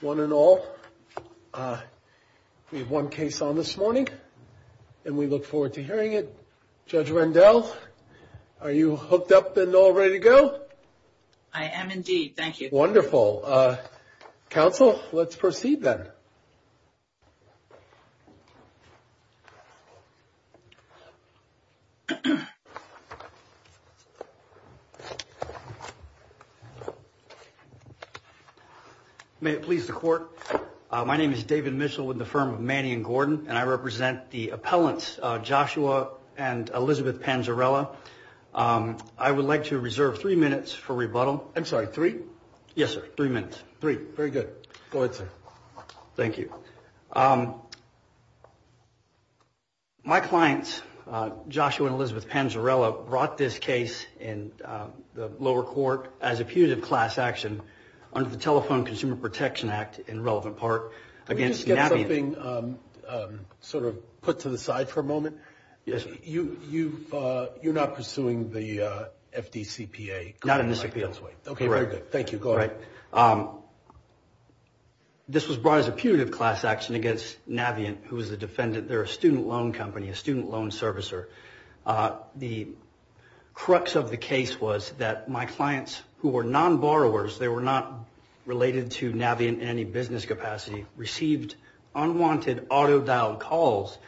One and all. We have one case on this morning and we look forward to hearing it. Judge Rendell, are you hooked up and all ready to go? I am indeed. Thank you. Wonderful. Council, let's proceed then. May it please the court. My name is David Mitchell with the firm of Manny and Gordon and I represent the appellants Joshua and Elizabeth Panzarella. I would like to reserve three minutes for rebuttal. I'm sorry, three? Yes, sir. Three minutes. Three. Very good. Go ahead, sir. Thank you. My clients, Joshua and Elizabeth Panzarella, brought this case in the lower court as a punitive class action under the Telephone Consumer Protection Act, in relevant part, against Navient. Can we just get something sort of put to the side for a moment? You're not pursuing the FDCPA? Not in this appeal's way. Okay, very good. Thank you. Go ahead. This was brought as a punitive class action against Navient, who is a defendant. They're a student loan company, a student loan servicer. The crux of the case was that my clients, who were non-borrowers, they were not related to Navient in any business capacity, received unwanted auto-dialed calls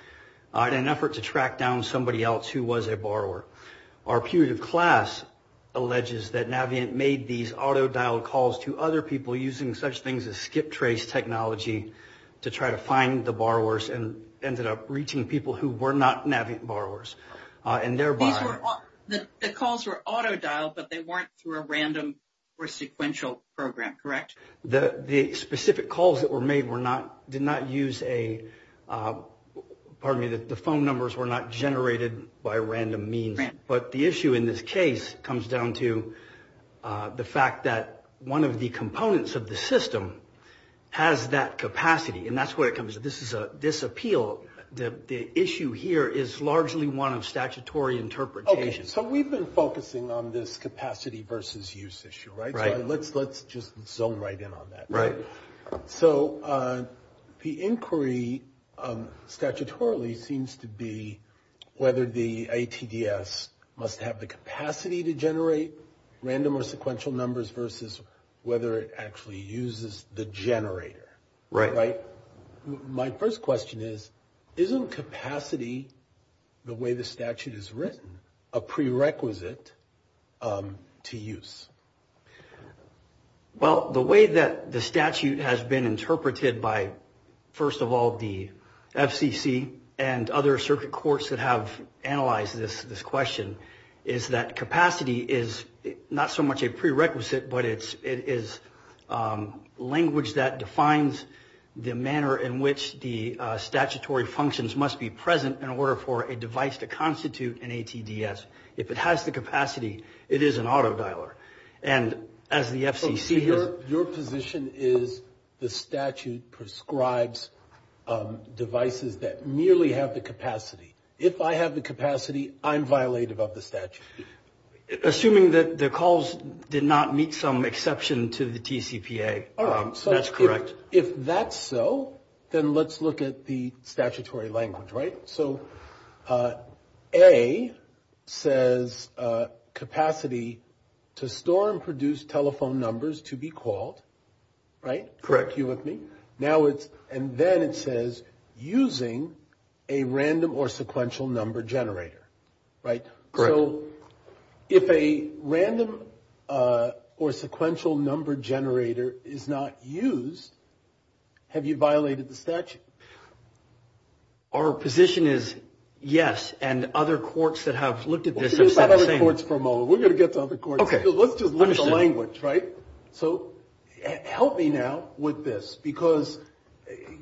in an effort to track down somebody else who was a borrower. Our punitive class alleges that Navient made these auto-dialed calls to other people using such things as skip trace technology to try to find the borrowers, and ended up reaching people who were not Navient borrowers. These were, the calls were auto-dialed, but they weren't through a random or sequential program, correct? The specific calls that were made were not, did not use a, pardon me, the phone numbers were not generated by random means. But the issue in this case comes down to the fact that one of the components of the system has that capacity. And that's where it comes, this appeal, the issue here is largely one of statutory interpretation. Okay, so we've been focusing on this capacity versus use issue, right? Right. So let's just zone right in on that. Right. So the inquiry statutorily seems to be whether the ATDS must have the capacity to generate random or sequential numbers versus whether it actually uses the generator. Right. Right? My first question is, isn't capacity, the way the statute is written, a prerequisite to use? Well, the way that the statute has been interpreted by, first of all, the FCC and other circuit courts that have analyzed this question, is that capacity is not so much a prerequisite, but it is language that defines the manner in which the statutory functions must be present in order for a device to constitute an ATDS. If it has the capacity, it is an autodialer. And as the FCC has – So, speaker, your position is the statute prescribes devices that merely have the capacity. If I have the capacity, I'm violative of the statute. Assuming that the calls did not meet some exception to the TCPA, that's correct. All right, so if that's so, then let's look at the statutory language, right? So, A says capacity to store and produce telephone numbers to be called, right? Correct. You with me? Now it's – and then it says using a random or sequential number generator, right? Correct. So, if a random or sequential number generator is not used, have you violated the statute? Our position is yes, and other courts that have looked at this have said the same. We'll see about other courts for a moment. We're going to get to other courts. Okay. Let's just look at the language, right? So, help me now with this, because,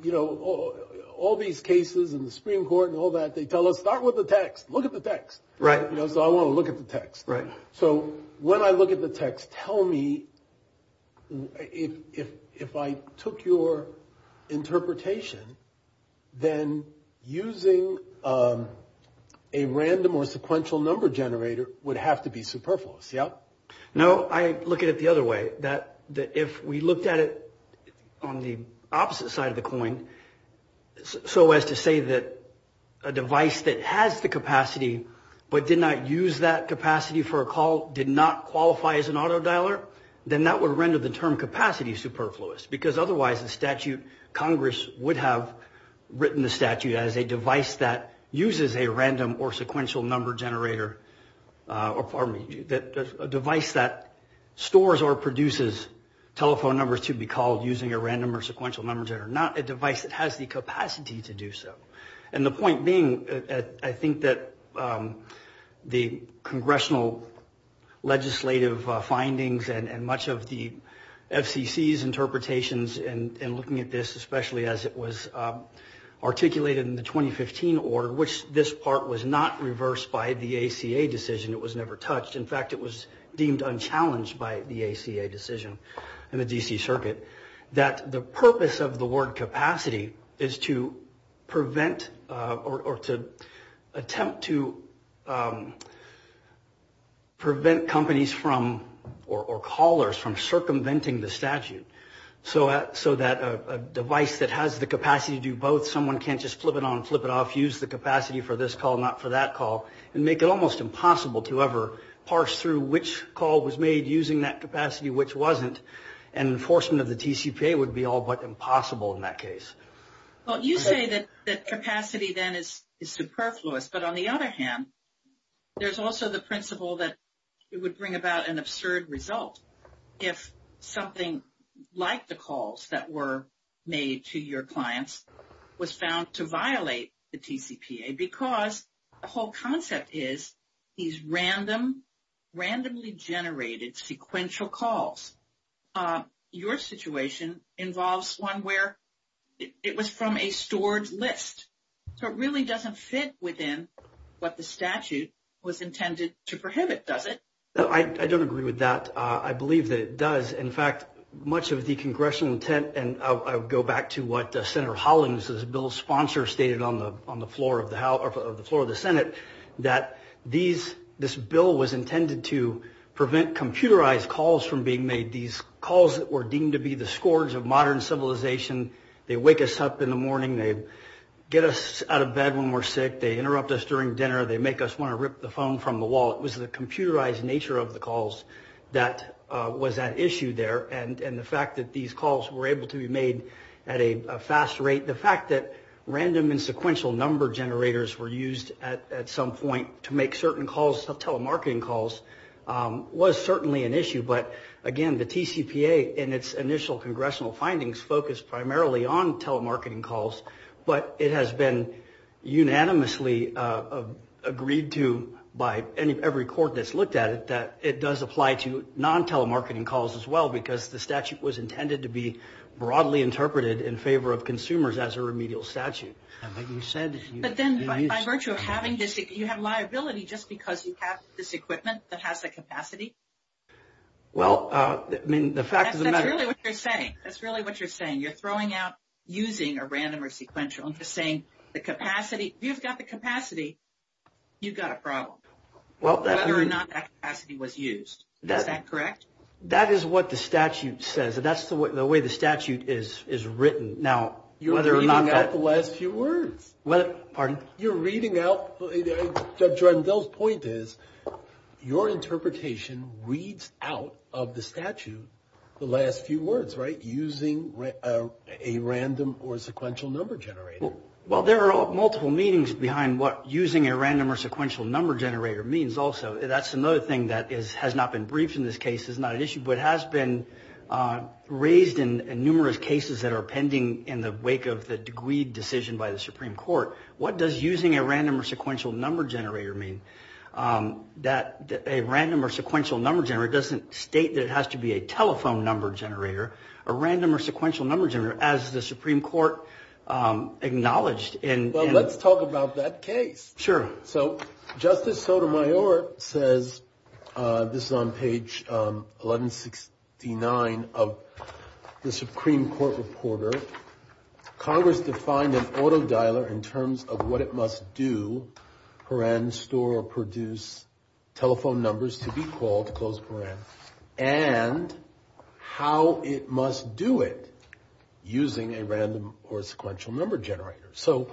you know, all these cases in the Supreme Court and all that, they tell us start with the text. Look at the text. Right. You know, so I want to look at the text. Right. So, when I look at the text, tell me if I took your interpretation, then using a random or sequential number generator would have to be superfluous, yeah? No, I look at it the other way, that if we looked at it on the opposite side of the coin, so as to say that a device that has the capacity but did not use that capacity for a call did not qualify as an auto dialer, then that would render the term capacity superfluous, because otherwise the statute, Congress would have written the statute as a device that uses a random or sequential number generator, or pardon me, a device that stores or produces telephone numbers to be called using a random or sequential number generator, not a device that has the capacity to do so. And the point being, I think that the congressional legislative findings and much of the FCC's interpretations in looking at this, especially as it was articulated in the 2015 order, which this part was not reversed by the ACA decision, it was never touched. In fact, it was deemed unchallenged by the ACA decision in the D.C. Circuit, that the purpose of the word capacity is to prevent or to attempt to prevent companies from or callers from circumventing the statute, so that a device that has the capacity to do both, someone can't just flip it on and flip it off, use the capacity for this call, not for that call, and make it almost impossible to ever parse through which call was made using that capacity, which wasn't, and enforcement of the TCPA would be all but impossible in that case. Well, you say that capacity then is superfluous, but on the other hand, there's also the principle that it would bring about an absurd result if something like the calls that were made to your clients was found to violate the TCPA, because the whole concept is these randomly generated sequential calls. Your situation involves one where it was from a stored list, so it really doesn't fit within what the statute was intended to prohibit, does it? I don't agree with that. I believe that it does. In fact, much of the congressional intent, and I'll go back to what Senator Hollins, the bill's sponsor, stated on the floor of the Senate, that this bill was intended to prevent computerized calls from being made, these calls that were deemed to be the scourge of modern civilization. They wake us up in the morning. They get us out of bed when we're sick. They interrupt us during dinner. They make us want to rip the phone from the wall. It was the computerized nature of the calls that was at issue there, and the fact that these calls were able to be made at a fast rate. The fact that random and sequential number generators were used at some point to make certain telemarketing calls was certainly an issue, but again, the TCPA in its initial congressional findings focused primarily on telemarketing calls, but it has been unanimously agreed to by every court that's looked at it that it does apply to non-telemarketing calls as well, because the statute was intended to be broadly interpreted in favor of consumers as a remedial statute. But then by virtue of having this, you have liability just because you have this equipment that has the capacity? Well, I mean, the fact of the matter is. That's really what you're saying. That's really what you're saying. You're throwing out using a random or sequential and just saying the capacity. If you've got the capacity, you've got a problem, whether or not that capacity was used. Is that correct? That is what the statute says. That's the way the statute is written. Now, whether or not that. You're reading out the last few words. Pardon? You're reading out. Judge Rundell's point is your interpretation reads out of the statute the last few words, right? Using a random or sequential number generator. Well, there are multiple meanings behind what using a random or sequential number generator means also. That's another thing that has not been briefed in this case. It's not an issue, but it has been raised in numerous cases that are pending in the wake of the degreed decision by the Supreme Court. What does using a random or sequential number generator mean? That a random or sequential number generator doesn't state that it has to be a telephone number generator. A random or sequential number generator, as the Supreme Court acknowledged. Well, let's talk about that case. Sure. So Justice Sotomayor says, this is on page 1169 of the Supreme Court reporter. Congress defined an auto dialer in terms of what it must do. Horan store or produce telephone numbers to be called close. And how it must do it using a random or sequential number generator. So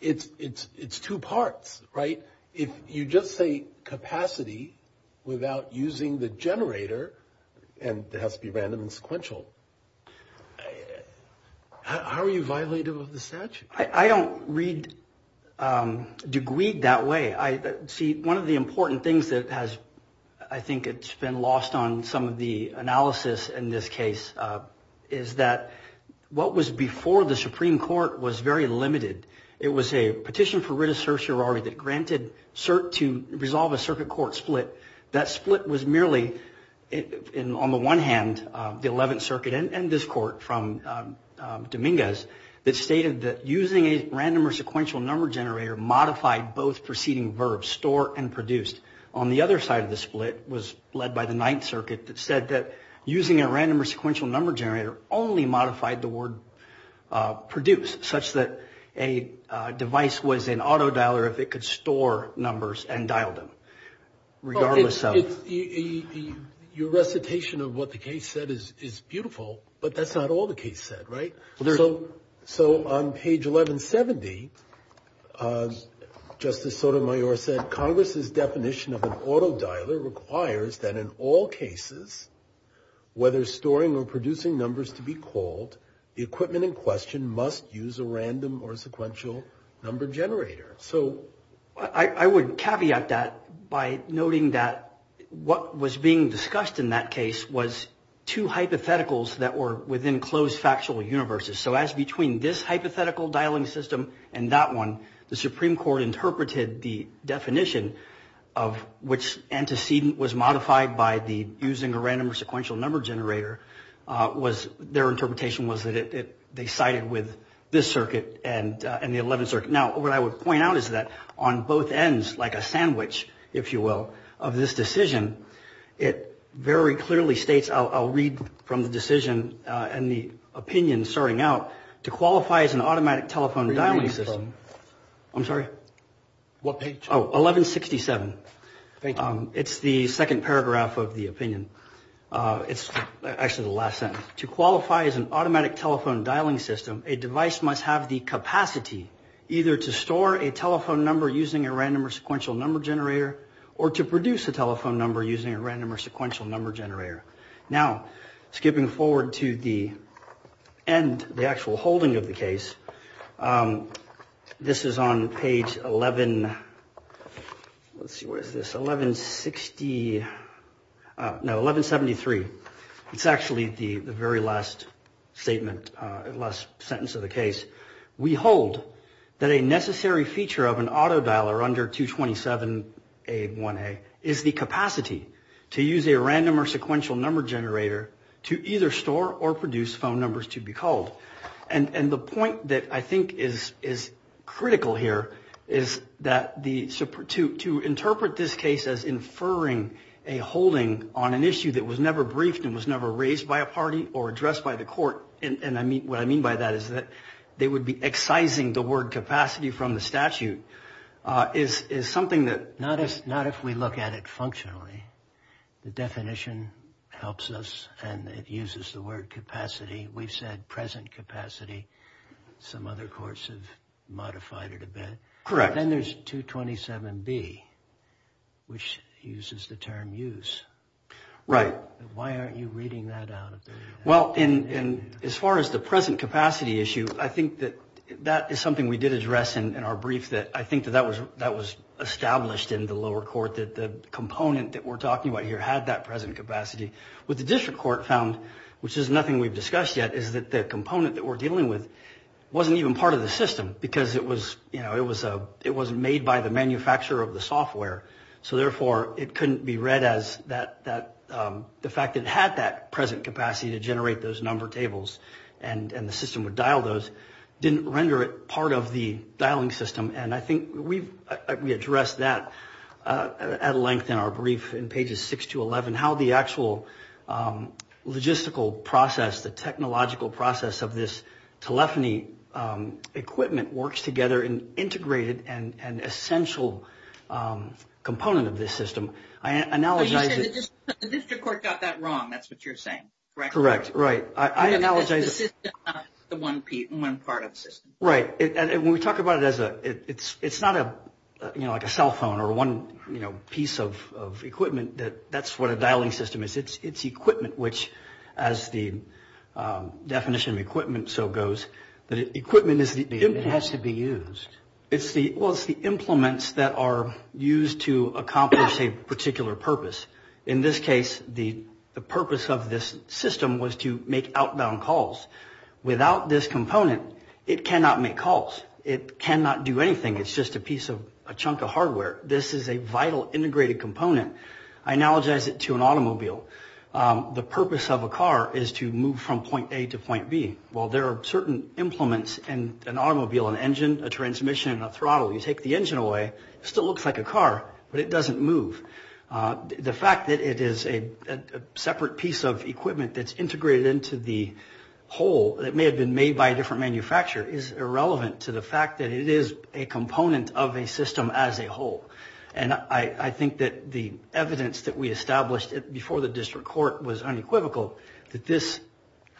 it's it's it's two parts. Right. If you just say capacity without using the generator and there has to be random and sequential. How are you violated with the statute? I don't read degreed that way. I see one of the important things that has I think it's been lost on some of the analysis in this case is that what was before the Supreme Court was very limited. It was a petition for writ of certiorari that granted cert to resolve a circuit court split. That split was merely on the one hand, the 11th Circuit and this court from Dominguez, that stated that using a random or sequential number generator modified both preceding verbs store and produced. On the other side of the split was led by the Ninth Circuit that said that using a random or sequential number generator only modified the word produce such that a device was an autodialer if it could store numbers and dial them. Regardless of your recitation of what the case said is is beautiful. But that's not all the case said. Right. So. So on page 1170, Justice Sotomayor said Congress's definition of an autodialer requires that in all cases, whether storing or producing numbers to be called the equipment in question must use a random or sequential number generator. So I would caveat that by noting that what was being discussed in that case was two hypotheticals that were within closed factual universes. So as between this hypothetical dialing system and that one, the Supreme Court interpreted the definition of which antecedent was modified by the using a random or sequential number generator was their interpretation was that they sided with this circuit and the 11th Circuit. Now, what I would point out is that on both ends, like a sandwich, if you will, of this decision, it very clearly states. I'll read from the decision and the opinion starting out to qualify as an automatic telephone dialing system. I'm sorry. What page? Oh, 1167. It's the second paragraph of the opinion. It's actually the last sentence to qualify as an automatic telephone dialing system. A device must have the capacity either to store a telephone number using a random or sequential number generator or to produce a telephone number using a random or sequential number generator. Now, skipping forward to the end, the actual holding of the case. This is on page 11. Let's see, where is this? 1160. No, 1173. It's actually the very last statement, last sentence of the case. We hold that a necessary feature of an auto dialer under 227A1A is the capacity to use a random or sequential number generator to either store or produce phone numbers to be called. And the point that I think is critical here is that to interpret this case as inferring a holding on an issue that was never briefed and was never raised by a party or addressed by the court, and what I mean by that is that they would be excising the word capacity from the statute, is something that... Some other courts have modified it a bit. Correct. Then there's 227B, which uses the term use. Right. Why aren't you reading that out? Well, as far as the present capacity issue, I think that that is something we did address in our brief. I think that that was established in the lower court, that the component that we're talking about here had that present capacity. What the district court found, which is nothing we've discussed yet, is that the component that we're dealing with wasn't even part of the system because it was made by the manufacturer of the software. So, therefore, it couldn't be read as that. The fact that it had that present capacity to generate those number tables and the system would dial those didn't render it part of the dialing system. And I think we addressed that at length in our brief in pages 6 to 11, how the actual logistical process, the technological process of this telephony equipment works together in integrated and essential component of this system. So you said the district court got that wrong. That's what you're saying, correct? Correct. Right. Because the system is not the one part of the system. Right. And when we talk about it as a, it's not a, you know, like a cell phone or one, you know, piece of equipment that that's what a dialing system is. It's equipment, which as the definition of equipment so goes, that equipment is the... It has to be used. Well, it's the implements that are used to accomplish a particular purpose. In this case, the purpose of this system was to make outbound calls. Without this component, it cannot make calls. It cannot do anything. It's just a piece of a chunk of hardware. This is a vital integrated component. I analogize it to an automobile. The purpose of a car is to move from point A to point B. Well, there are certain implements in an automobile, an engine, a transmission and a throttle. You take the engine away, it still looks like a car, but it doesn't move. The fact that it is a separate piece of equipment that's integrated into the whole, that may have been made by a different manufacturer is irrelevant to the fact that it is a component of a system as a whole. And I think that the evidence that we established before the district court was unequivocal that this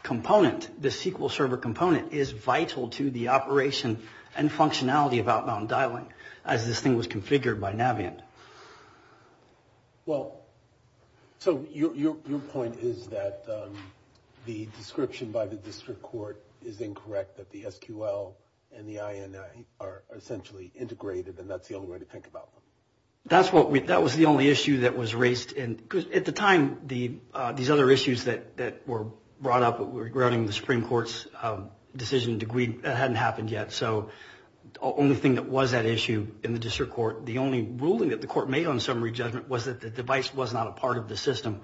component, this SQL server component, is vital to the operation and functionality of outbound dialing, as this thing was configured by Navient. Well, so your point is that the description by the district court is incorrect, that the SQL and the INI are essentially integrated, and that's the only way to think about them. That was the only issue that was raised. At the time, these other issues that were brought up regarding the Supreme Court's decision degree hadn't happened yet. So the only thing that was at issue in the district court, the only ruling that the court made on summary judgment, was that the device was not a part of the system.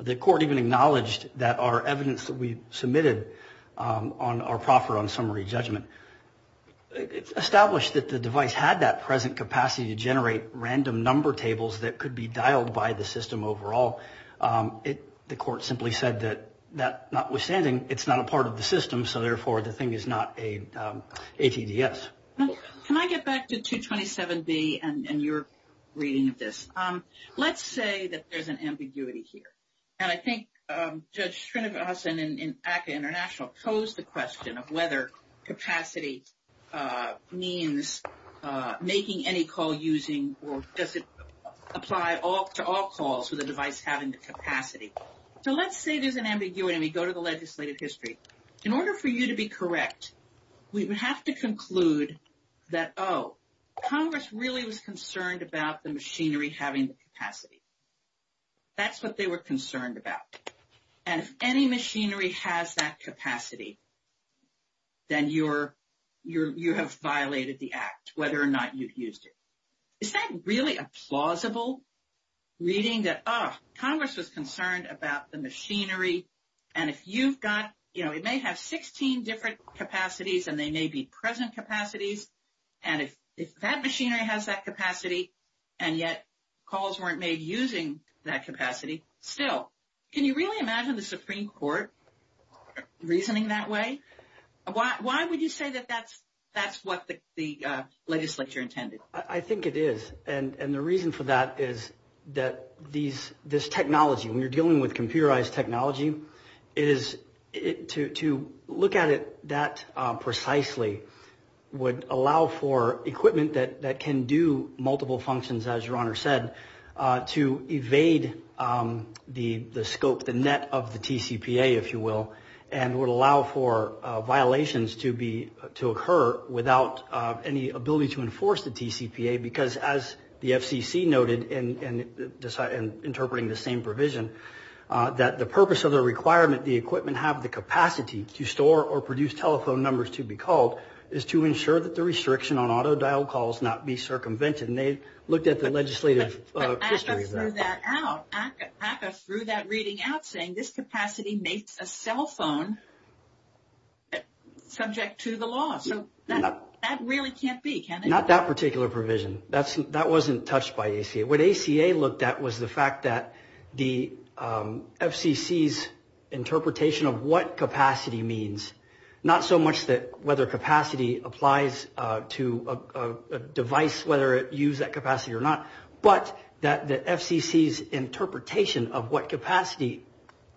The court even acknowledged that our evidence that we submitted on our proffer on summary judgment, established that the device had that present capacity to generate random number tables that could be dialed by the system overall. The court simply said that notwithstanding, it's not a part of the system, so therefore the thing is not a TDS. Can I get back to 227B and your reading of this? Let's say that there's an ambiguity here. And I think Judge Srinivasan in ACCA International posed the question of whether capacity means making any call using, or does it apply to all calls with a device having the capacity? So let's say there's an ambiguity, and we go to the legislative history. In order for you to be correct, we would have to conclude that, oh, Congress really was concerned about the machinery having the capacity. That's what they were concerned about. And if any machinery has that capacity, then you have violated the act, whether or not you've used it. Is that really a plausible reading that, oh, Congress was concerned about the machinery, and if you've got, you know, it may have 16 different capacities, and they may be present capacities, and if that machinery has that capacity, and yet calls weren't made using that capacity, still. Can you really imagine the Supreme Court reasoning that way? Why would you say that that's what the legislature intended? I think it is. And the reason for that is that this technology, when you're dealing with computerized technology, to look at it that precisely would allow for equipment that can do multiple functions, as your Honor said, to evade the scope, the net of the TCPA, if you will, and would allow for violations to occur without any ability to enforce the TCPA, because as the FCC noted in interpreting the same provision, that the purpose of the requirement, the equipment have the capacity to store or produce telephone numbers to be called, is to ensure that the restriction on auto-dial calls not be circumvented. And they looked at the legislative history of that. But ACCA threw that out. ACCA threw that reading out saying this capacity makes a cell phone subject to the law. So that really can't be, can it? Not that particular provision. That wasn't touched by ACA. What ACA looked at was the fact that the FCC's interpretation of what capacity means, not so much whether capacity applies to a device, whether it used that capacity or not, but that the FCC's interpretation of what capacity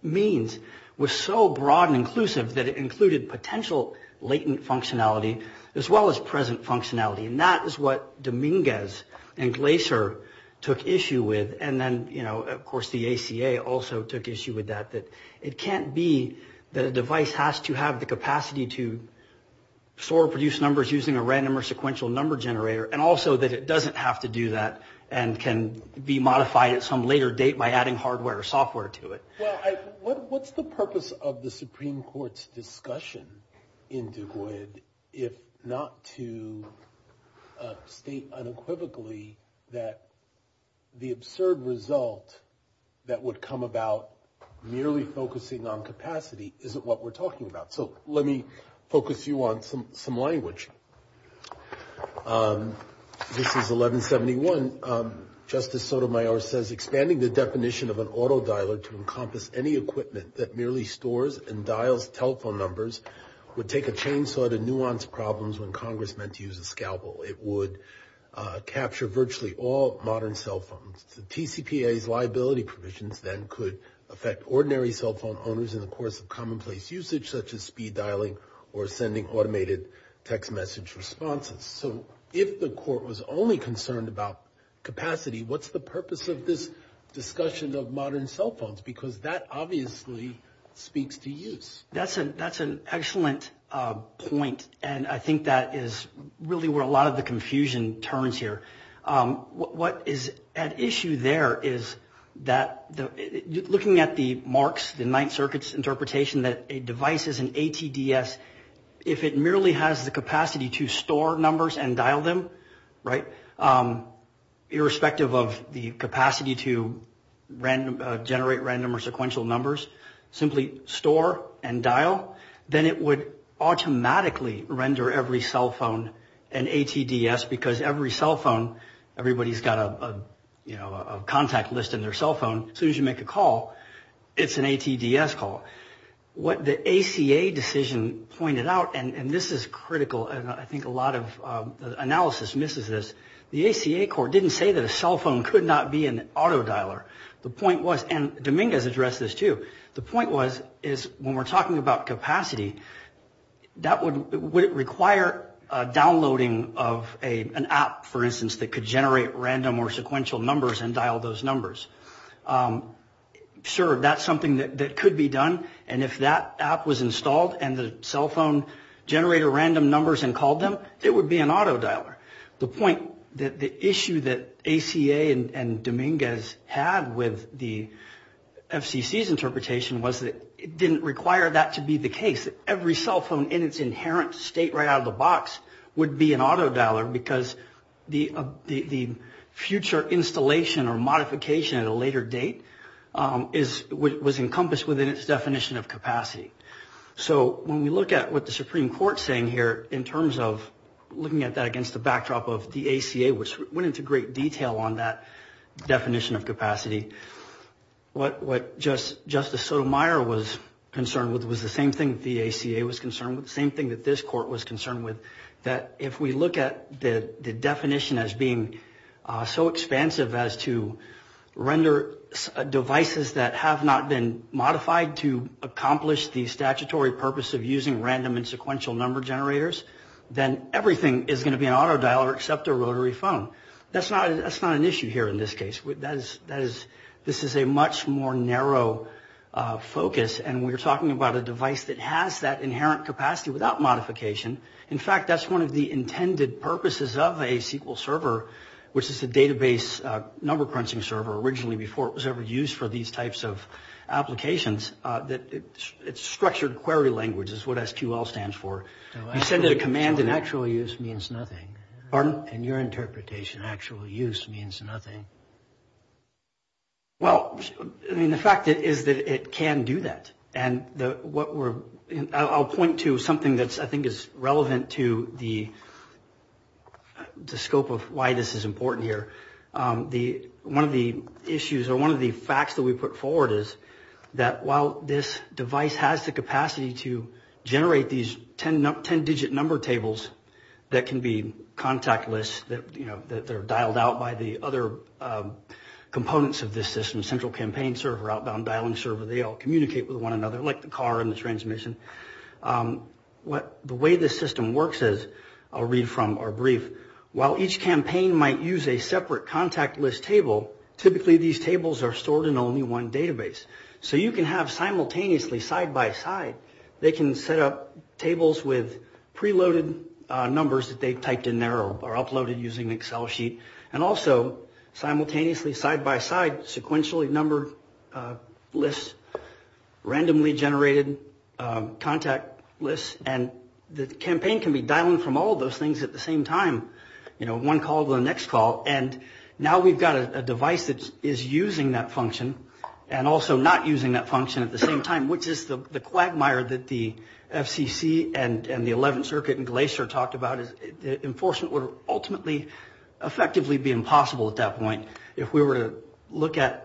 means was so broad and inclusive that it included potential latent functionality as well as present functionality. And that is what Dominguez and Glaser took issue with. And then, you know, of course the ACA also took issue with that, that it can't be that a device has to have the capacity to store or produce numbers using a random or sequential number generator, and also that it doesn't have to do that and can be modified at some later date by adding hardware or software to it. Well, what's the purpose of the Supreme Court's discussion in Du Bois if not to state unequivocally that the absurd result that would come about merely focusing on capacity isn't what we're talking about? So let me focus you on some language. This is 1171. Justice Sotomayor says, expanding the definition of an auto dialer to encompass any equipment that merely stores and dials telephone numbers would take a chainsaw to nuance problems when Congress meant to use a scalpel. It would capture virtually all modern cell phones. The TCPA's liability provisions then could affect ordinary cell phone owners in the course of commonplace usage, such as speed dialing or sending automated text message responses. So if the court was only concerned about capacity, what's the purpose of this discussion of modern cell phones? Because that obviously speaks to use. That's an excellent point, and I think that is really where a lot of the confusion turns here. What is at issue there is that looking at the marks, the Ninth Circuit's interpretation that a device is an ATDS, if it merely has the capacity to store numbers and dial them, right, irrespective of the capacity to generate random or sequential numbers, simply store and dial, then it would automatically render every cell phone an ATDS because every cell phone, everybody's got a contact list in their cell phone. As soon as you make a call, it's an ATDS call. What the ACA decision pointed out, and this is critical, and I think a lot of analysis misses this, the ACA court didn't say that a cell phone could not be an auto dialer. The point was, and Dominguez addressed this too, the point was is when we're talking about capacity, would it require downloading of an app, for instance, that could generate random or sequential numbers and dial those numbers? Sure, that's something that could be done, and if that app was installed and the cell phone generated random numbers and called them, it would be an auto dialer. The point, the issue that ACA and Dominguez had with the FCC's interpretation was that it didn't require that to be the case. Every cell phone in its inherent state right out of the box would be an auto dialer because the future installation or modification at a later date was encompassed within its definition of capacity. So when we look at what the Supreme Court's saying here in terms of looking at that against the backdrop of the ACA, which went into great detail on that definition of capacity, what Justice Sotomayor was concerned with was the same thing the ACA was concerned with, the same thing that this court was concerned with, that if we look at the definition as being so expansive as to render devices that have not been modified to accomplish the statutory purpose of using random and sequential number generators, then everything is going to be an auto dialer except a rotary phone. That's not an issue here in this case. This is a much more narrow focus, and we're talking about a device that has that inherent capacity without modification. In fact, that's one of the intended purposes of a SQL server, which is a database number-printing server originally before it was ever used for these types of applications. It's structured query language is what SQL stands for. You send it a command and actual use means nothing. Pardon? In your interpretation, actual use means nothing. Well, I mean, the fact is that it can do that. I'll point to something that I think is relevant to the scope of why this is important here. One of the issues or one of the facts that we put forward is that while this device has the capacity to generate these 10-digit number tables that can be contactless, that they're dialed out by the other components of this system, central campaign server, outbound dialing server. They all communicate with one another like the car and the transmission. The way this system works is I'll read from our brief. While each campaign might use a separate contactless table, typically these tables are stored in only one database. So you can have simultaneously side-by-side. They can set up tables with preloaded numbers that they've typed in there or uploaded using an Excel sheet, and also simultaneously side-by-side sequentially numbered lists, randomly generated contact lists, and the campaign can be dialed from all of those things at the same time, one call to the next call. And now we've got a device that is using that function and also not using that function at the same time, which is the quagmire that the FCC and the 11th Circuit and Glacier talked about. The enforcement would ultimately effectively be impossible at that point. If we were to look at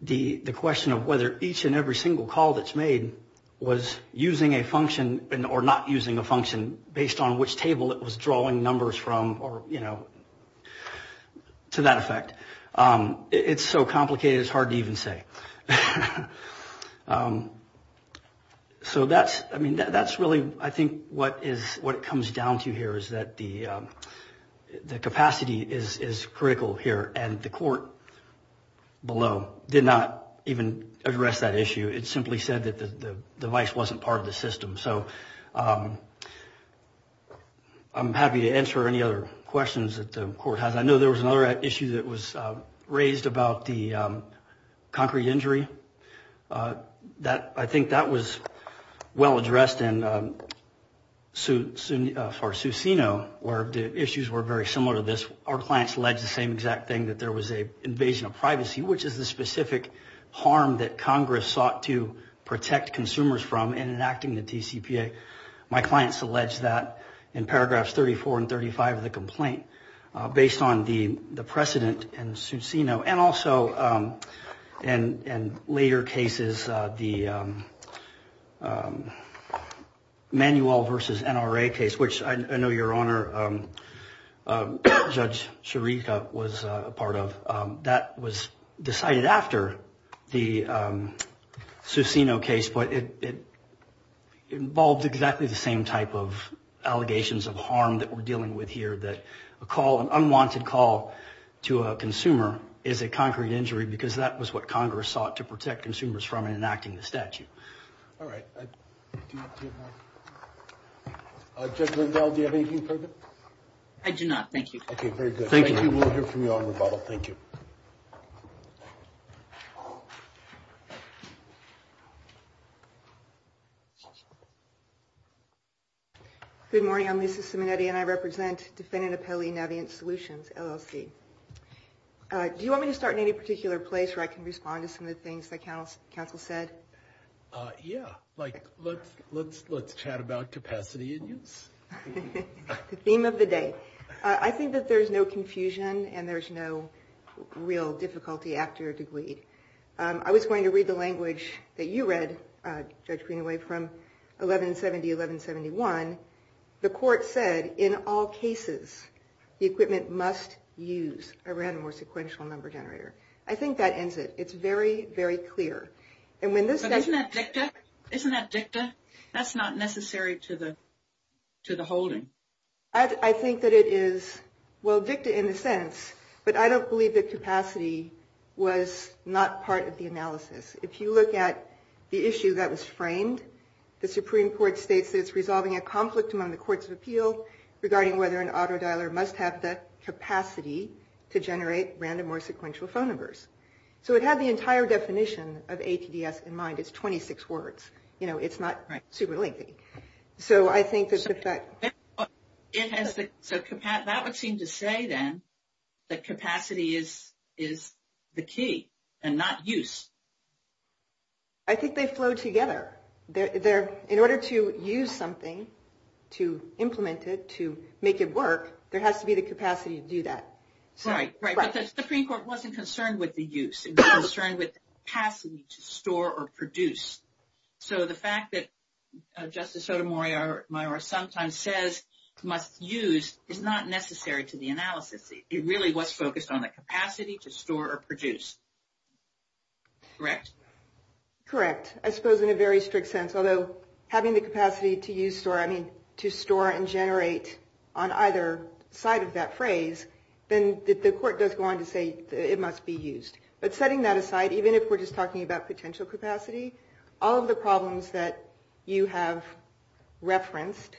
the question of whether each and every single call that's made was using a function or not using a function based on which table it was drawing numbers from or, you know, to that effect, it's so complicated it's hard to even say. So that's, I mean, that's really I think what it comes down to here is that the capacity is critical here, and the court below did not even address that issue. It simply said that the device wasn't part of the system. So I'm happy to answer any other questions that the court has. I know there was another issue that was raised about the concrete injury. I think that was well addressed for Susino where the issues were very similar to this. Our clients alleged the same exact thing, that there was an invasion of privacy, which is the specific harm that Congress sought to protect consumers from in enacting the TCPA. My clients allege that in paragraphs 34 and 35 of the complaint based on the precedent in Susino and also in later cases, the Manuel v. NRA case, which I know your Honor, Judge Chirica was a part of. That was decided after the Susino case, but it involved exactly the same type of allegations of harm that we're dealing with here, that a call, an unwanted call to a consumer is a concrete injury because that was what Congress sought to protect consumers from in enacting the statute. All right. Judge Lindahl, do you have anything further? I do not, thank you. Okay, very good. Thank you. We will hear from you on rebuttal. Thank you. Good morning. I'm Lisa Simonetti, and I represent Defendant Appellee Navigant Solutions, LLC. Do you want me to start in any particular place where I can respond to some of the things that counsel said? Yeah, like let's chat about capacity and use. The theme of the day. I think that there's no confusion and there's no real difficulty after your degree. I was going to read the language that you read, Judge Greenaway, from 1170-1171. The court said, in all cases, the equipment must use a random or sequential number generator. I think that ends it. It's very, very clear. Isn't that dicta? Isn't that dicta? That's not necessary to the holding. I think that it is, well, dicta in a sense, but I don't believe that capacity was not part of the analysis. If you look at the issue that was framed, the Supreme Court states that it's resolving a conflict among the courts of appeal regarding whether an auto dialer must have the capacity to generate random or sequential phone numbers. So it had the entire definition of ATDS in mind. It's 26 words. You know, it's not super lengthy. So I think that if that... So that would seem to say, then, that capacity is the key and not use. I think they flow together. In order to use something, to implement it, to make it work, there has to be the capacity to do that. Right. But the Supreme Court wasn't concerned with the use. It was concerned with the capacity to store or produce. So the fact that Justice Sotomayor sometimes says must use is not necessary to the analysis. It really was focused on the capacity to store or produce. Correct? Correct. I suppose in a very strict sense. Although having the capacity to store and generate on either side of that phrase, then the court does go on to say it must be used. But setting that aside, even if we're just talking about potential capacity, all of the problems that you have referenced,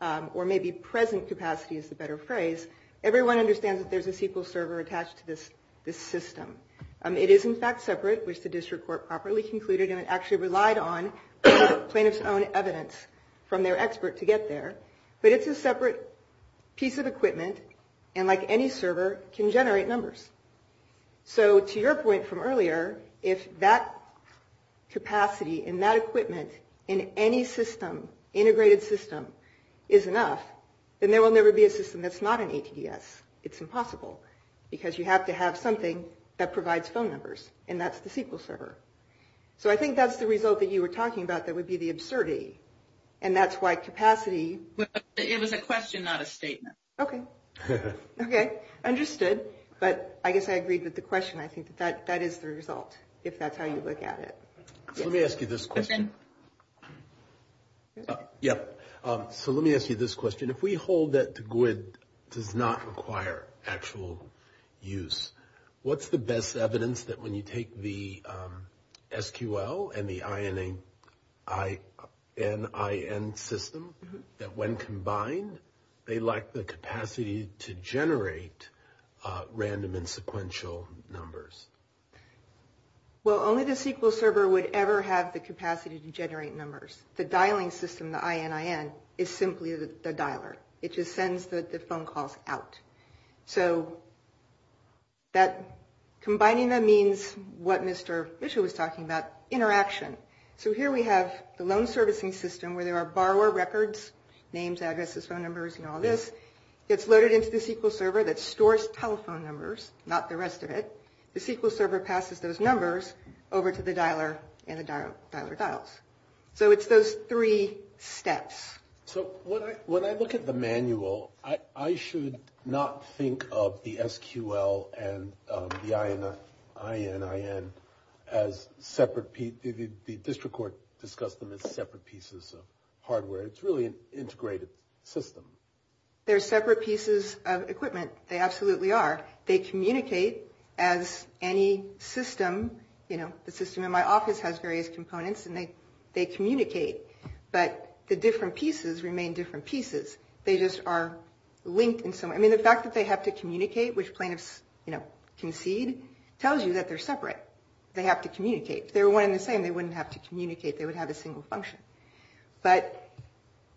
or maybe present capacity is the better phrase, everyone understands that there's a SQL server attached to this system. It is, in fact, separate, which the district court properly concluded, and it actually relied on plaintiff's own evidence from their expert to get there. But it's a separate piece of equipment. And like any server, can generate numbers. So to your point from earlier, if that capacity and that equipment in any system, integrated system, is enough, then there will never be a system that's not an ATDS. It's impossible. Because you have to have something that provides phone numbers, and that's the SQL server. So I think that's the result that you were talking about that would be the absurdity. And that's why capacity. It was a question, not a statement. Okay. Okay. Understood. But I guess I agreed with the question. I think that that is the result, if that's how you look at it. Let me ask you this question. So let me ask you this question. If we hold that the GWID does not require actual use, what's the best evidence that when you take the SQL and the ININ system, that when combined, they lack the capacity to generate random and sequential numbers? Well, only the SQL server would ever have the capacity to generate numbers. The dialing system, the ININ, is simply the dialer. It just sends the phone calls out. So combining them means what Mr. Mitchell was talking about, interaction. So here we have the loan servicing system where there are borrower records, names, addresses, phone numbers, and all this. It's loaded into the SQL server that stores telephone numbers, not the rest of it. The SQL server passes those numbers over to the dialer and the dialer dials. So it's those three steps. So when I look at the manual, I should not think of the SQL and the ININ as separate pieces. The district court discussed them as separate pieces of hardware. It's really an integrated system. They're separate pieces of equipment. They absolutely are. They communicate as any system. The system in my office has various components, and they communicate. But the different pieces remain different pieces. They just are linked in some way. I mean, the fact that they have to communicate, which plaintiffs concede, tells you that they're separate. They have to communicate. If they were one and the same, they wouldn't have to communicate. They would have a single function. But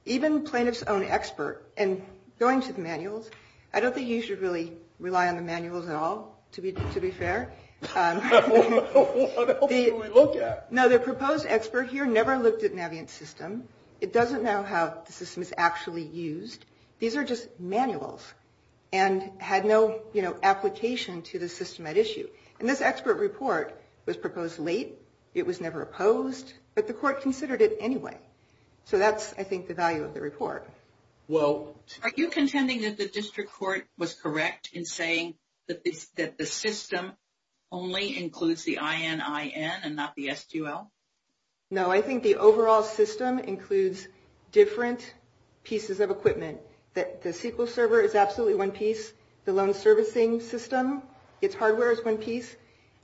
even plaintiffs' own expert, and going to the manuals, I don't think you should really rely on the manuals at all, to be fair. What else do we look at? No, the proposed expert here never looked at NavientSystem. It doesn't know how the system is actually used. These are just manuals and had no application to the system at issue. And this expert report was proposed late. It was never opposed. But the court considered it anyway. So that's, I think, the value of the report. Are you contending that the district court was correct in saying that the system only includes the ININ and not the S2L? No, I think the overall system includes different pieces of equipment. The SQL server is absolutely one piece. The loan servicing system, its hardware is one piece.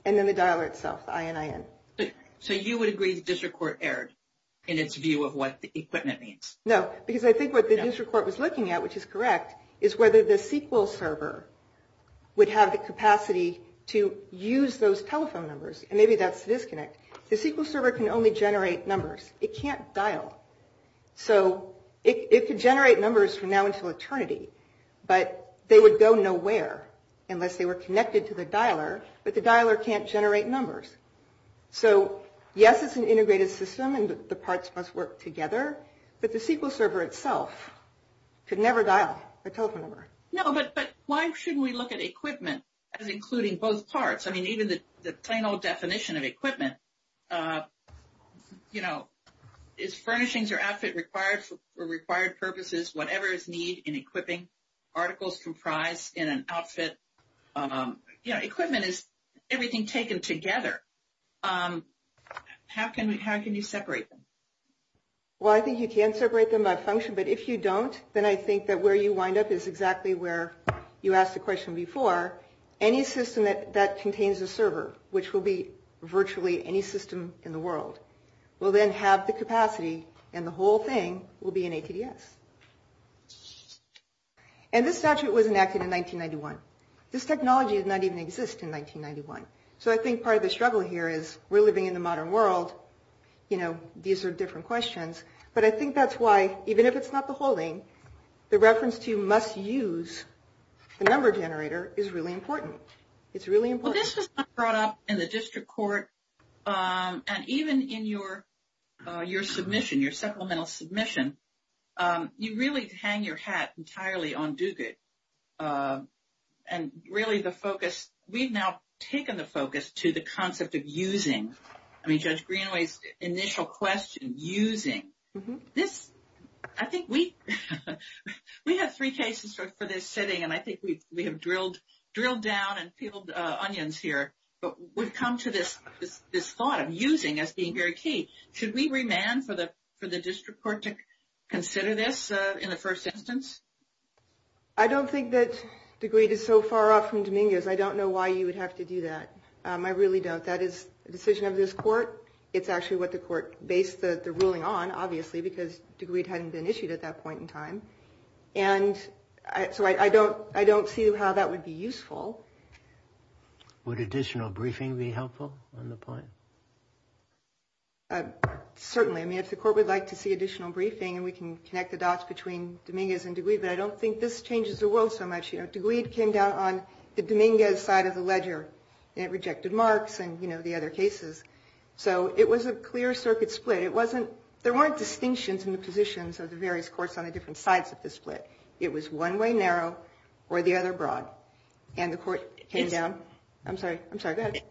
And then the dialer itself, the ININ. So you would agree the district court erred in its view of what the equipment means? No, because I think what the district court was looking at, which is correct, is whether the SQL server would have the capacity to use those telephone numbers. And maybe that's the disconnect. The SQL server can only generate numbers. It can't dial. So it could generate numbers from now until eternity, but they would go nowhere unless they were connected to the dialer, but the dialer can't generate numbers. So, yes, it's an integrated system and the parts must work together, but the SQL server itself could never dial a telephone number. No, but why shouldn't we look at equipment as including both parts? I mean, even the plain old definition of equipment, you know, is furnishings or outfit required for required purposes, whatever is need in equipping, articles comprised in an outfit. You know, equipment is everything taken together. How can you separate them? Well, I think you can separate them by function, but if you don't then I think that where you wind up is exactly where you asked the question before. Any system that contains a server, which will be virtually any system in the world, will then have the capacity and the whole thing will be in ATDS. And this statute was enacted in 1991. This technology did not even exist in 1991. So I think part of the struggle here is we're living in the modern world. You know, these are different questions, but I think that's why even if it's not the whole thing, the reference to must use the number generator is really important. It's really important. Well, this was not brought up in the district court. And even in your submission, your supplemental submission, you really hang your hat entirely on DUCA. And really the focus, we've now taken the focus to the concept of using. I mean, Judge Greenway's initial question, using. I think we have three cases for this setting, and I think we have drilled down and peeled onions here. But we've come to this thought of using as being very key. Should we remand for the district court to consider this in the first instance? I don't think that the grade is so far off from Domingo's. I don't know why you would have to do that. I really don't. That is the decision of this court. It's actually what the court based the ruling on, obviously, because Degweed hadn't been issued at that point in time. And so I don't see how that would be useful. Would additional briefing be helpful on the point? Certainly. I mean, if the court would like to see additional briefing, and we can connect the dots between Domingo's and Degweed, but I don't think this changes the world so much. Degweed came down on the Domingo's side of the ledger, and it rejected Mark's and the other cases. So it was a clear circuit split. There weren't distinctions in the positions of the various courts on the different sides of the split. It was one way narrow or the other broad. And the court came down. I'm sorry. I'm sorry. Go ahead.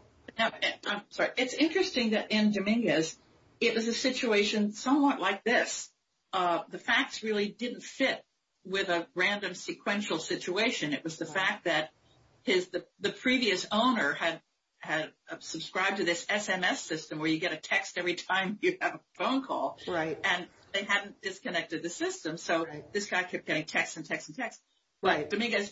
I'm sorry. It's interesting that in Domingo's, it was a situation somewhat like this. The facts really didn't fit with a random sequential situation. It was the fact that the previous owner had subscribed to this SMS system, where you get a text every time you have a phone call. And they hadn't disconnected the system. So this guy kept getting texts and texts and texts. But Domingo's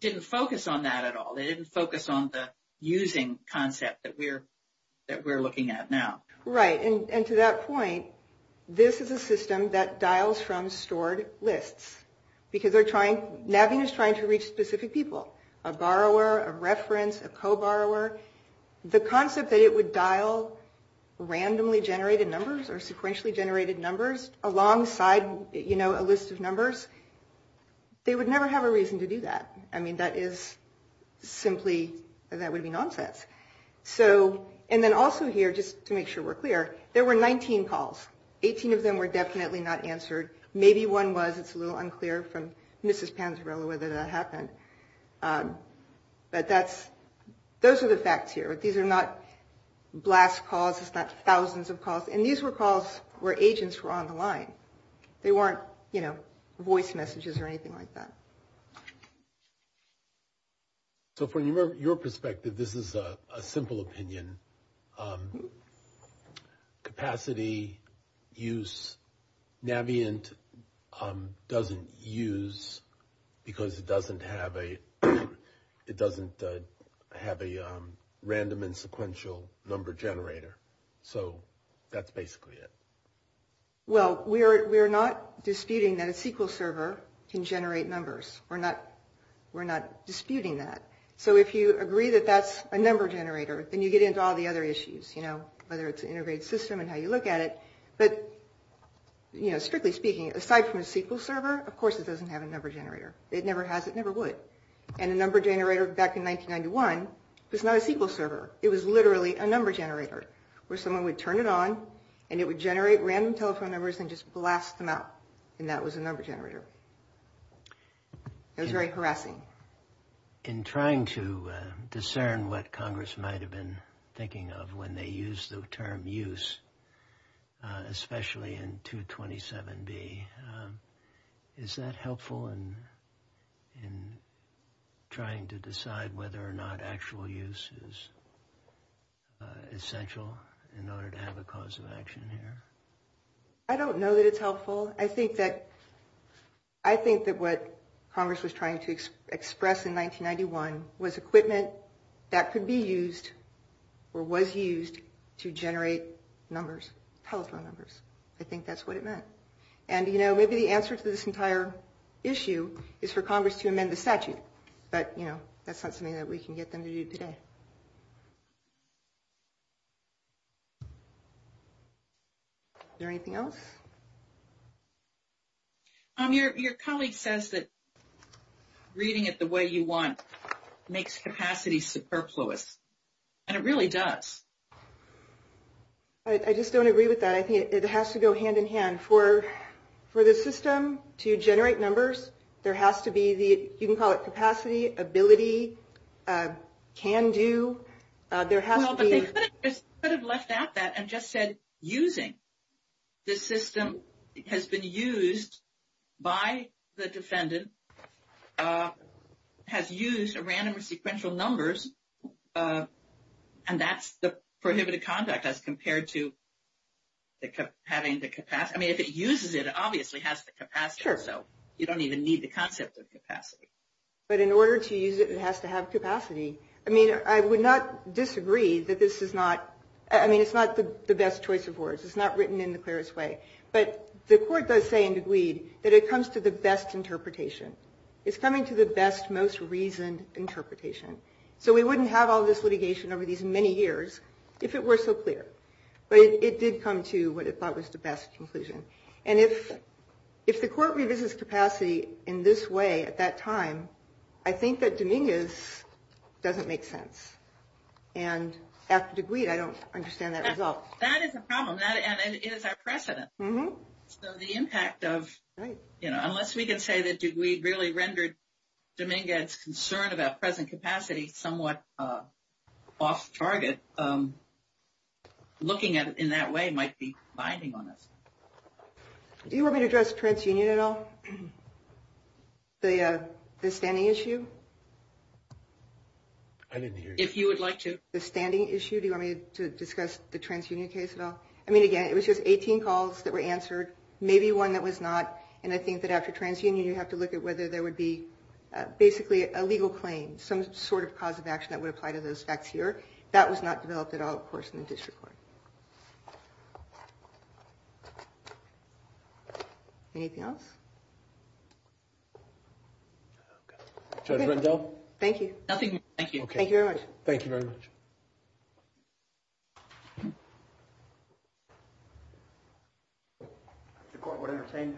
didn't focus on that at all. They didn't focus on the using concept that we're looking at now. Right. And to that point, this is a system that dials from stored lists. Because they're trying to reach specific people, a borrower, a reference, a co-borrower. The concept that it would dial randomly generated numbers or sequentially generated numbers alongside a list of numbers, they would never have a reason to do that. I mean, that is simply that would be nonsense. And then also here, just to make sure we're clear, there were 19 calls. 18 of them were definitely not answered. Maybe one was. It's a little unclear from Mrs. Panzarella whether that happened. But those are the facts here. These are not blast calls. It's not thousands of calls. And these were calls where agents were on the line. They weren't, you know, voice messages or anything like that. So from your perspective, this is a simple opinion. Capacity, use, Navient doesn't use because it doesn't have a random and sequential number generator. So that's basically it. Well, we are not disputing that a SQL server can generate numbers. We're not disputing that. So if you agree that that's a number generator, then you get into all the other issues, you know, whether it's an integrated system and how you look at it. But, you know, strictly speaking, aside from a SQL server, of course, it doesn't have a number generator. It never has. It never would. And a number generator back in 1991 was not a SQL server. It was literally a number generator where someone would turn it on, and it would generate random telephone numbers and just blast them out. And that was a number generator. It was very harassing. In trying to discern what Congress might have been thinking of when they used the term use, especially in 227B, is that helpful in trying to decide whether or not actual use is essential in order to have a cause of action here? I don't know that it's helpful. I think that what Congress was trying to express in 1991 was equipment that could be used or was used to generate numbers, telephone numbers. I think that's what it meant. And, you know, maybe the answer to this entire issue is for Congress to amend the statute. But, you know, that's not something that we can get them to do today. Is there anything else? Your colleague says that reading it the way you want makes capacity superfluous. And it really does. I just don't agree with that. I think it has to go hand in hand. For the system to generate numbers, there has to be the, you can call it capacity, ability, can do, there has to be. Well, but they could have left out that and just said using. The system has been used by the defendant, has used a random or sequential numbers, and that's the prohibited conduct as compared to having the capacity. I mean, if it uses it, it obviously has the capacity. Sure. So you don't even need the concept of capacity. But in order to use it, it has to have capacity. I mean, I would not disagree that this is not, I mean, it's not the best choice of words. It's not written in the clearest way. But the court does say and agreed that it comes to the best interpretation. It's coming to the best, most reasoned interpretation. So we wouldn't have all this litigation over these many years if it were so clear. But it did come to what it thought was the best conclusion. And if the court revisits capacity in this way at that time, I think that Dominguez doesn't make sense. And after DeGweed, I don't understand that at all. That is a problem. And it is our precedent. So the impact of, you know, unless we can say that DeGweed really rendered Dominguez's concern about present capacity somewhat off target, looking at it in that way might be binding on us. Do you want me to address TransUnion at all? The standing issue? I didn't hear you. If you would like to. The standing issue. Do you want me to discuss the TransUnion case at all? I mean, again, it was just 18 calls that were answered, maybe one that was not. And I think that after TransUnion you have to look at whether there would be basically a legal claim, some sort of cause of action that would apply to those facts here. That was not developed at all, of course, in the district court. Anything else? Judge Rendell? Thank you. Nothing. Thank you. Thank you very much. Thank you very much. Thank you. The court would entertain.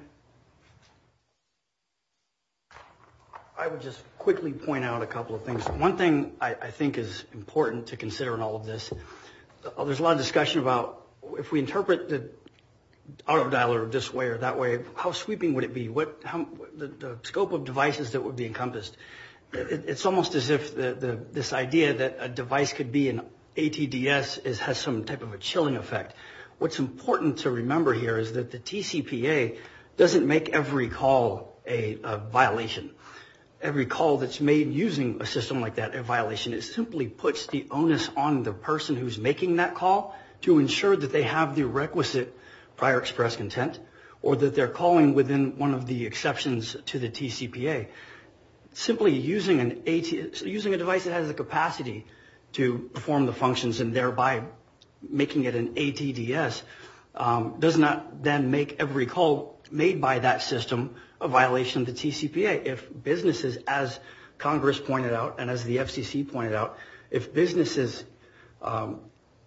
I would just quickly point out a couple of things. One thing I think is important to consider in all of this, there's a lot of discussion about if we interpret the auto dialer this way or that way, how sweeping would it be? The scope of devices that would be encompassed. It's almost as if this idea that a device could be an ATDS has some type of a chilling effect. What's important to remember here is that the TCPA doesn't make every call a violation. Every call that's made using a system like that a violation. It simply puts the onus on the person who's making that call to ensure that they have the requisite prior express content or that they're calling within one of the exceptions to the TCPA. Simply using a device that has the capacity to perform the functions and thereby making it an ATDS does not then make every call made by that system a violation of the TCPA. If businesses, as Congress pointed out and as the FCC pointed out, if businesses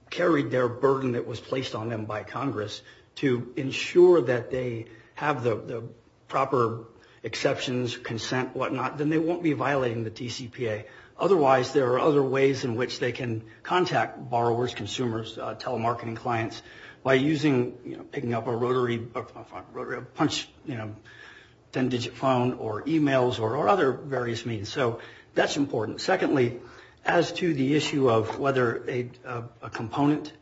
carried their burden that was placed on them by Congress to ensure that they have the proper exceptions, consent, whatnot, then they won't be violating the TCPA. Otherwise, there are other ways in which they can contact borrowers, consumers, telemarketing clients, by picking up a rotary punch 10-digit phone or emails or other various means. That's important. Secondly, as to the issue of whether a component,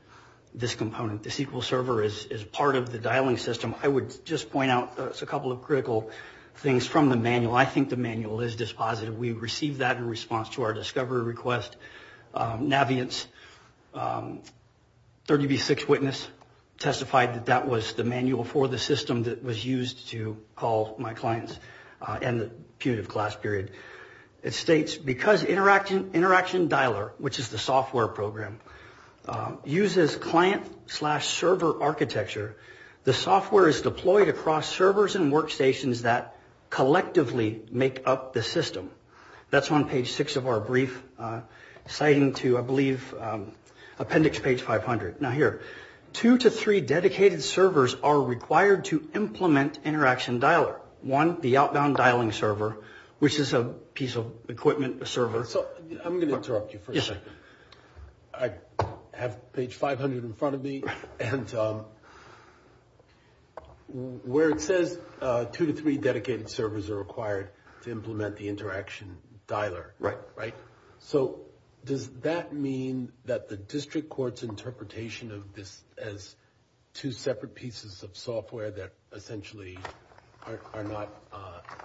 this component, the SQL server is part of the dialing system, I would just point out a couple of critical things from the manual. I think the manual is dispositive. We received that in response to our discovery request. Navient's 30B6 witness testified that that was the manual for the system that was used to call my clients in the punitive class period. It states, because Interaction Dialer, which is the software program, uses client-slash-server architecture, the software is deployed across servers and workstations that collectively make up the system. That's on page 6 of our brief citing to, I believe, appendix page 500. Now here, two to three dedicated servers are required to implement Interaction Dialer. One, the outbound dialing server, which is a piece of equipment, a server. I'm going to interrupt you for a second. I have page 500 in front of me, and where it says two to three dedicated servers are required to implement the Interaction Dialer. Right. So does that mean that the district court's interpretation of this as two separate pieces of software that essentially are not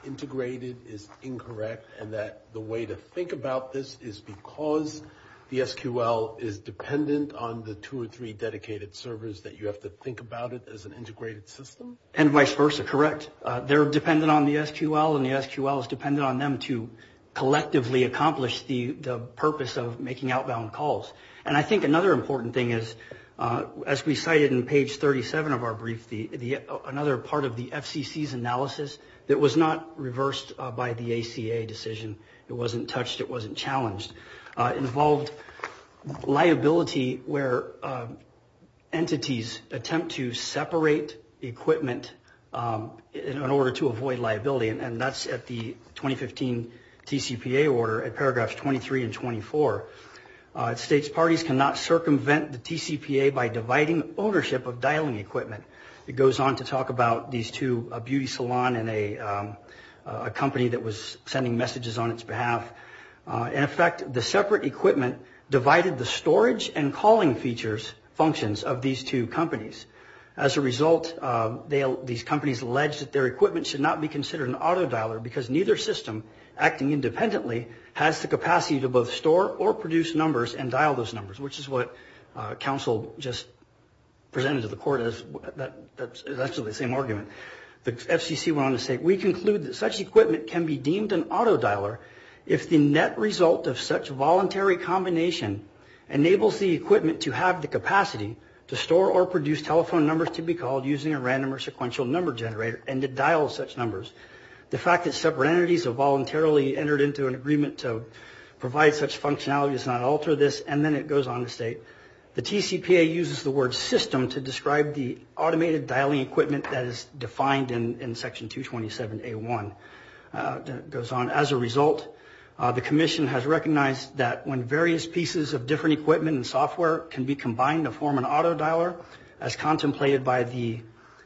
integrated is incorrect, and that the way to think about this is because the SQL is dependent on the two or three dedicated servers that you have to think about it as an integrated system? And vice versa. Correct. They're dependent on the SQL, and the SQL is dependent on them to collectively accomplish the purpose of making outbound calls. And I think another important thing is, as we cited in page 37 of our brief, another part of the FCC's analysis that was not reversed by the ACA decision. It wasn't touched. It wasn't challenged. It involved liability where entities attempt to separate equipment in order to avoid liability, and that's at the 2015 TCPA order at paragraphs 23 and 24. It states parties cannot circumvent the TCPA by dividing ownership of dialing equipment. It goes on to talk about these two, a beauty salon and a company that was sending messages on its behalf. In effect, the separate equipment divided the storage and calling features functions of these two companies. As a result, these companies alleged that their equipment should not be considered an autodialer because neither system, acting independently, has the capacity to both store or produce numbers and dial those numbers, which is what counsel just presented to the court. That's actually the same argument. The FCC went on to say, we conclude that such equipment can be deemed an autodialer if the net result of such voluntary combination enables the equipment to have the capacity to store or produce telephone numbers to be called using a random or sequential number generator and to dial such numbers. The fact that separate entities have voluntarily entered into an agreement to provide such functionality does not alter this. And then it goes on to state the TCPA uses the word system to describe the automated dialing equipment that is defined in Section 227A1. It goes on, as a result, the commission has recognized that when various pieces of different equipment and software can be combined to form an autodialer, as contemplated by the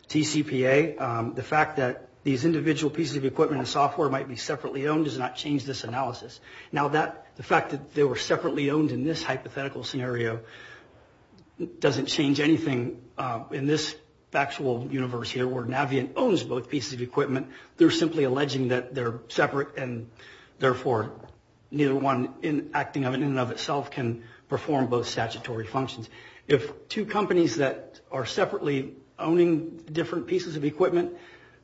TCPA, the fact that these individual pieces of equipment and software might be separately owned does not change this analysis. Now, the fact that they were separately owned in this hypothetical scenario doesn't change anything in this factual universe here where Navient owns both pieces of equipment. They're simply alleging that they're separate and, therefore, neither one acting in and of itself can perform both statutory functions. If two companies that are separately owning different pieces of equipment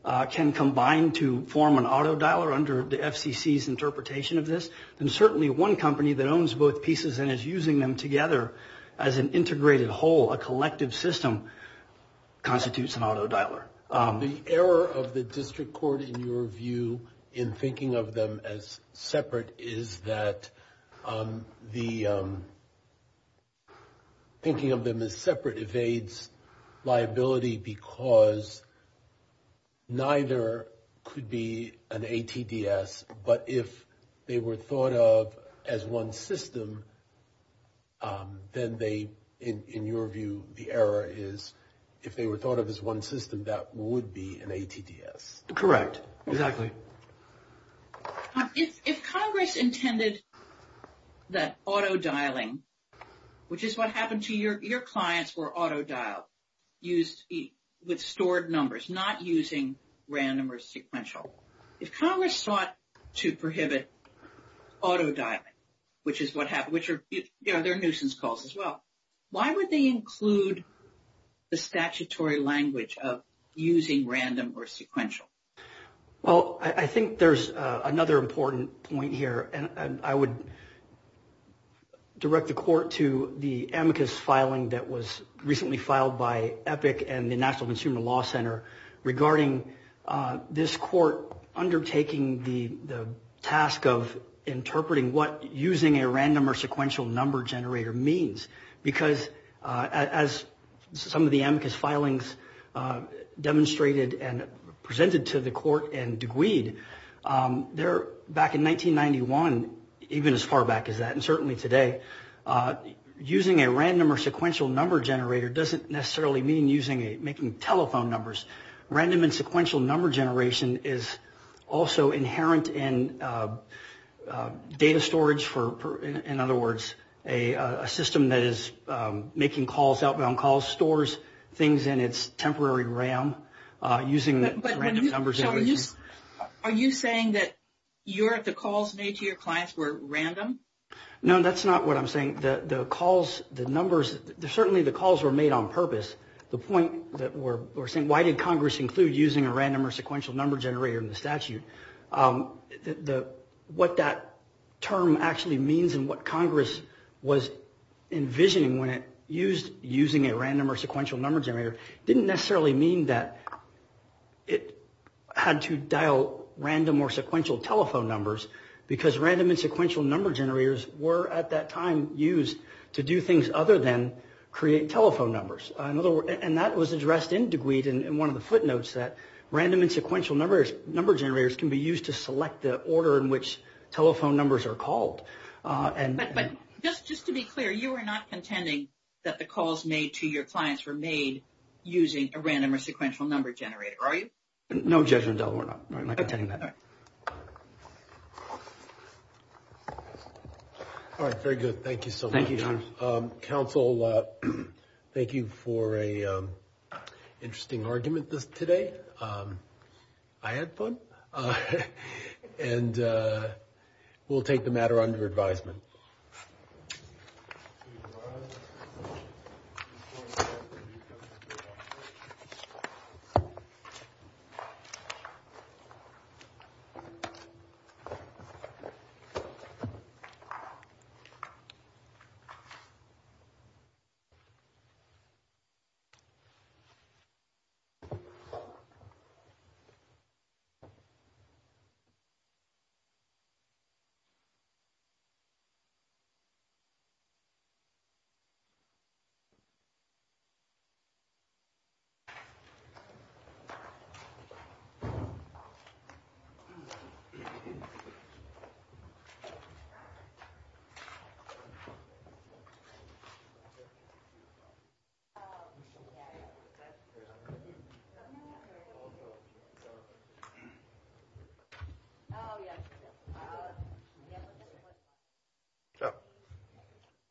can combine to form an autodialer under the FCC's interpretation of this, then certainly one company that owns both pieces and is using them together as an integrated whole, a collective system, constitutes an autodialer. The error of the district court, in your view, in thinking of them as separate is that the thinking of them as separate evades liability because neither could be an ATDS, but if they were thought of as one system, then they, in your view, the error is if they were thought of as one system, that would be an ATDS. Correct. Exactly. If Congress intended that autodialing, which is what happened to your clients were autodialed, used with stored numbers, not using random or sequential, if Congress sought to prohibit autodialing, which is what happened, which are, you know, they're nuisance calls as well, why would they include the statutory language of using random or sequential? Well, I think there's another important point here, and I would direct the court to the amicus filing that was recently filed by EPIC and the National Consumer Law Center regarding this court undertaking the task of interpreting what using a random or sequential number generator means. Because as some of the amicus filings demonstrated and presented to the court and degreed, back in 1991, even as far back as that, and certainly today, using a random or sequential number generator doesn't necessarily mean making telephone numbers. Random and sequential number generation is also inherent in data storage for, in other words, a system that is making calls, outbound calls, that stores things in its temporary RAM using random number generation. Are you saying that the calls made to your clients were random? No, that's not what I'm saying. The calls, the numbers, certainly the calls were made on purpose. The point that we're saying, why did Congress include using a random or sequential number generator in the statute? What that term actually means and what Congress was envisioning when it used using a random or sequential number generator didn't necessarily mean that it had to dial random or sequential telephone numbers, because random and sequential number generators were at that time used to do things other than create telephone numbers. In other words, and that was addressed in degreed in one of the footnotes, that random and sequential number generators can be used to select the order in which telephone numbers are called. But just to be clear, you are not contending that the calls made to your clients were made using a random or sequential number generator, are you? No, Judge Rendell, we're not contending that. All right, very good. Thank you so much. Thank you, John. Counsel, thank you for an interesting argument today. I had fun. And we'll take the matter under advisement. Thank you. Thank you.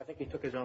I think he took his own.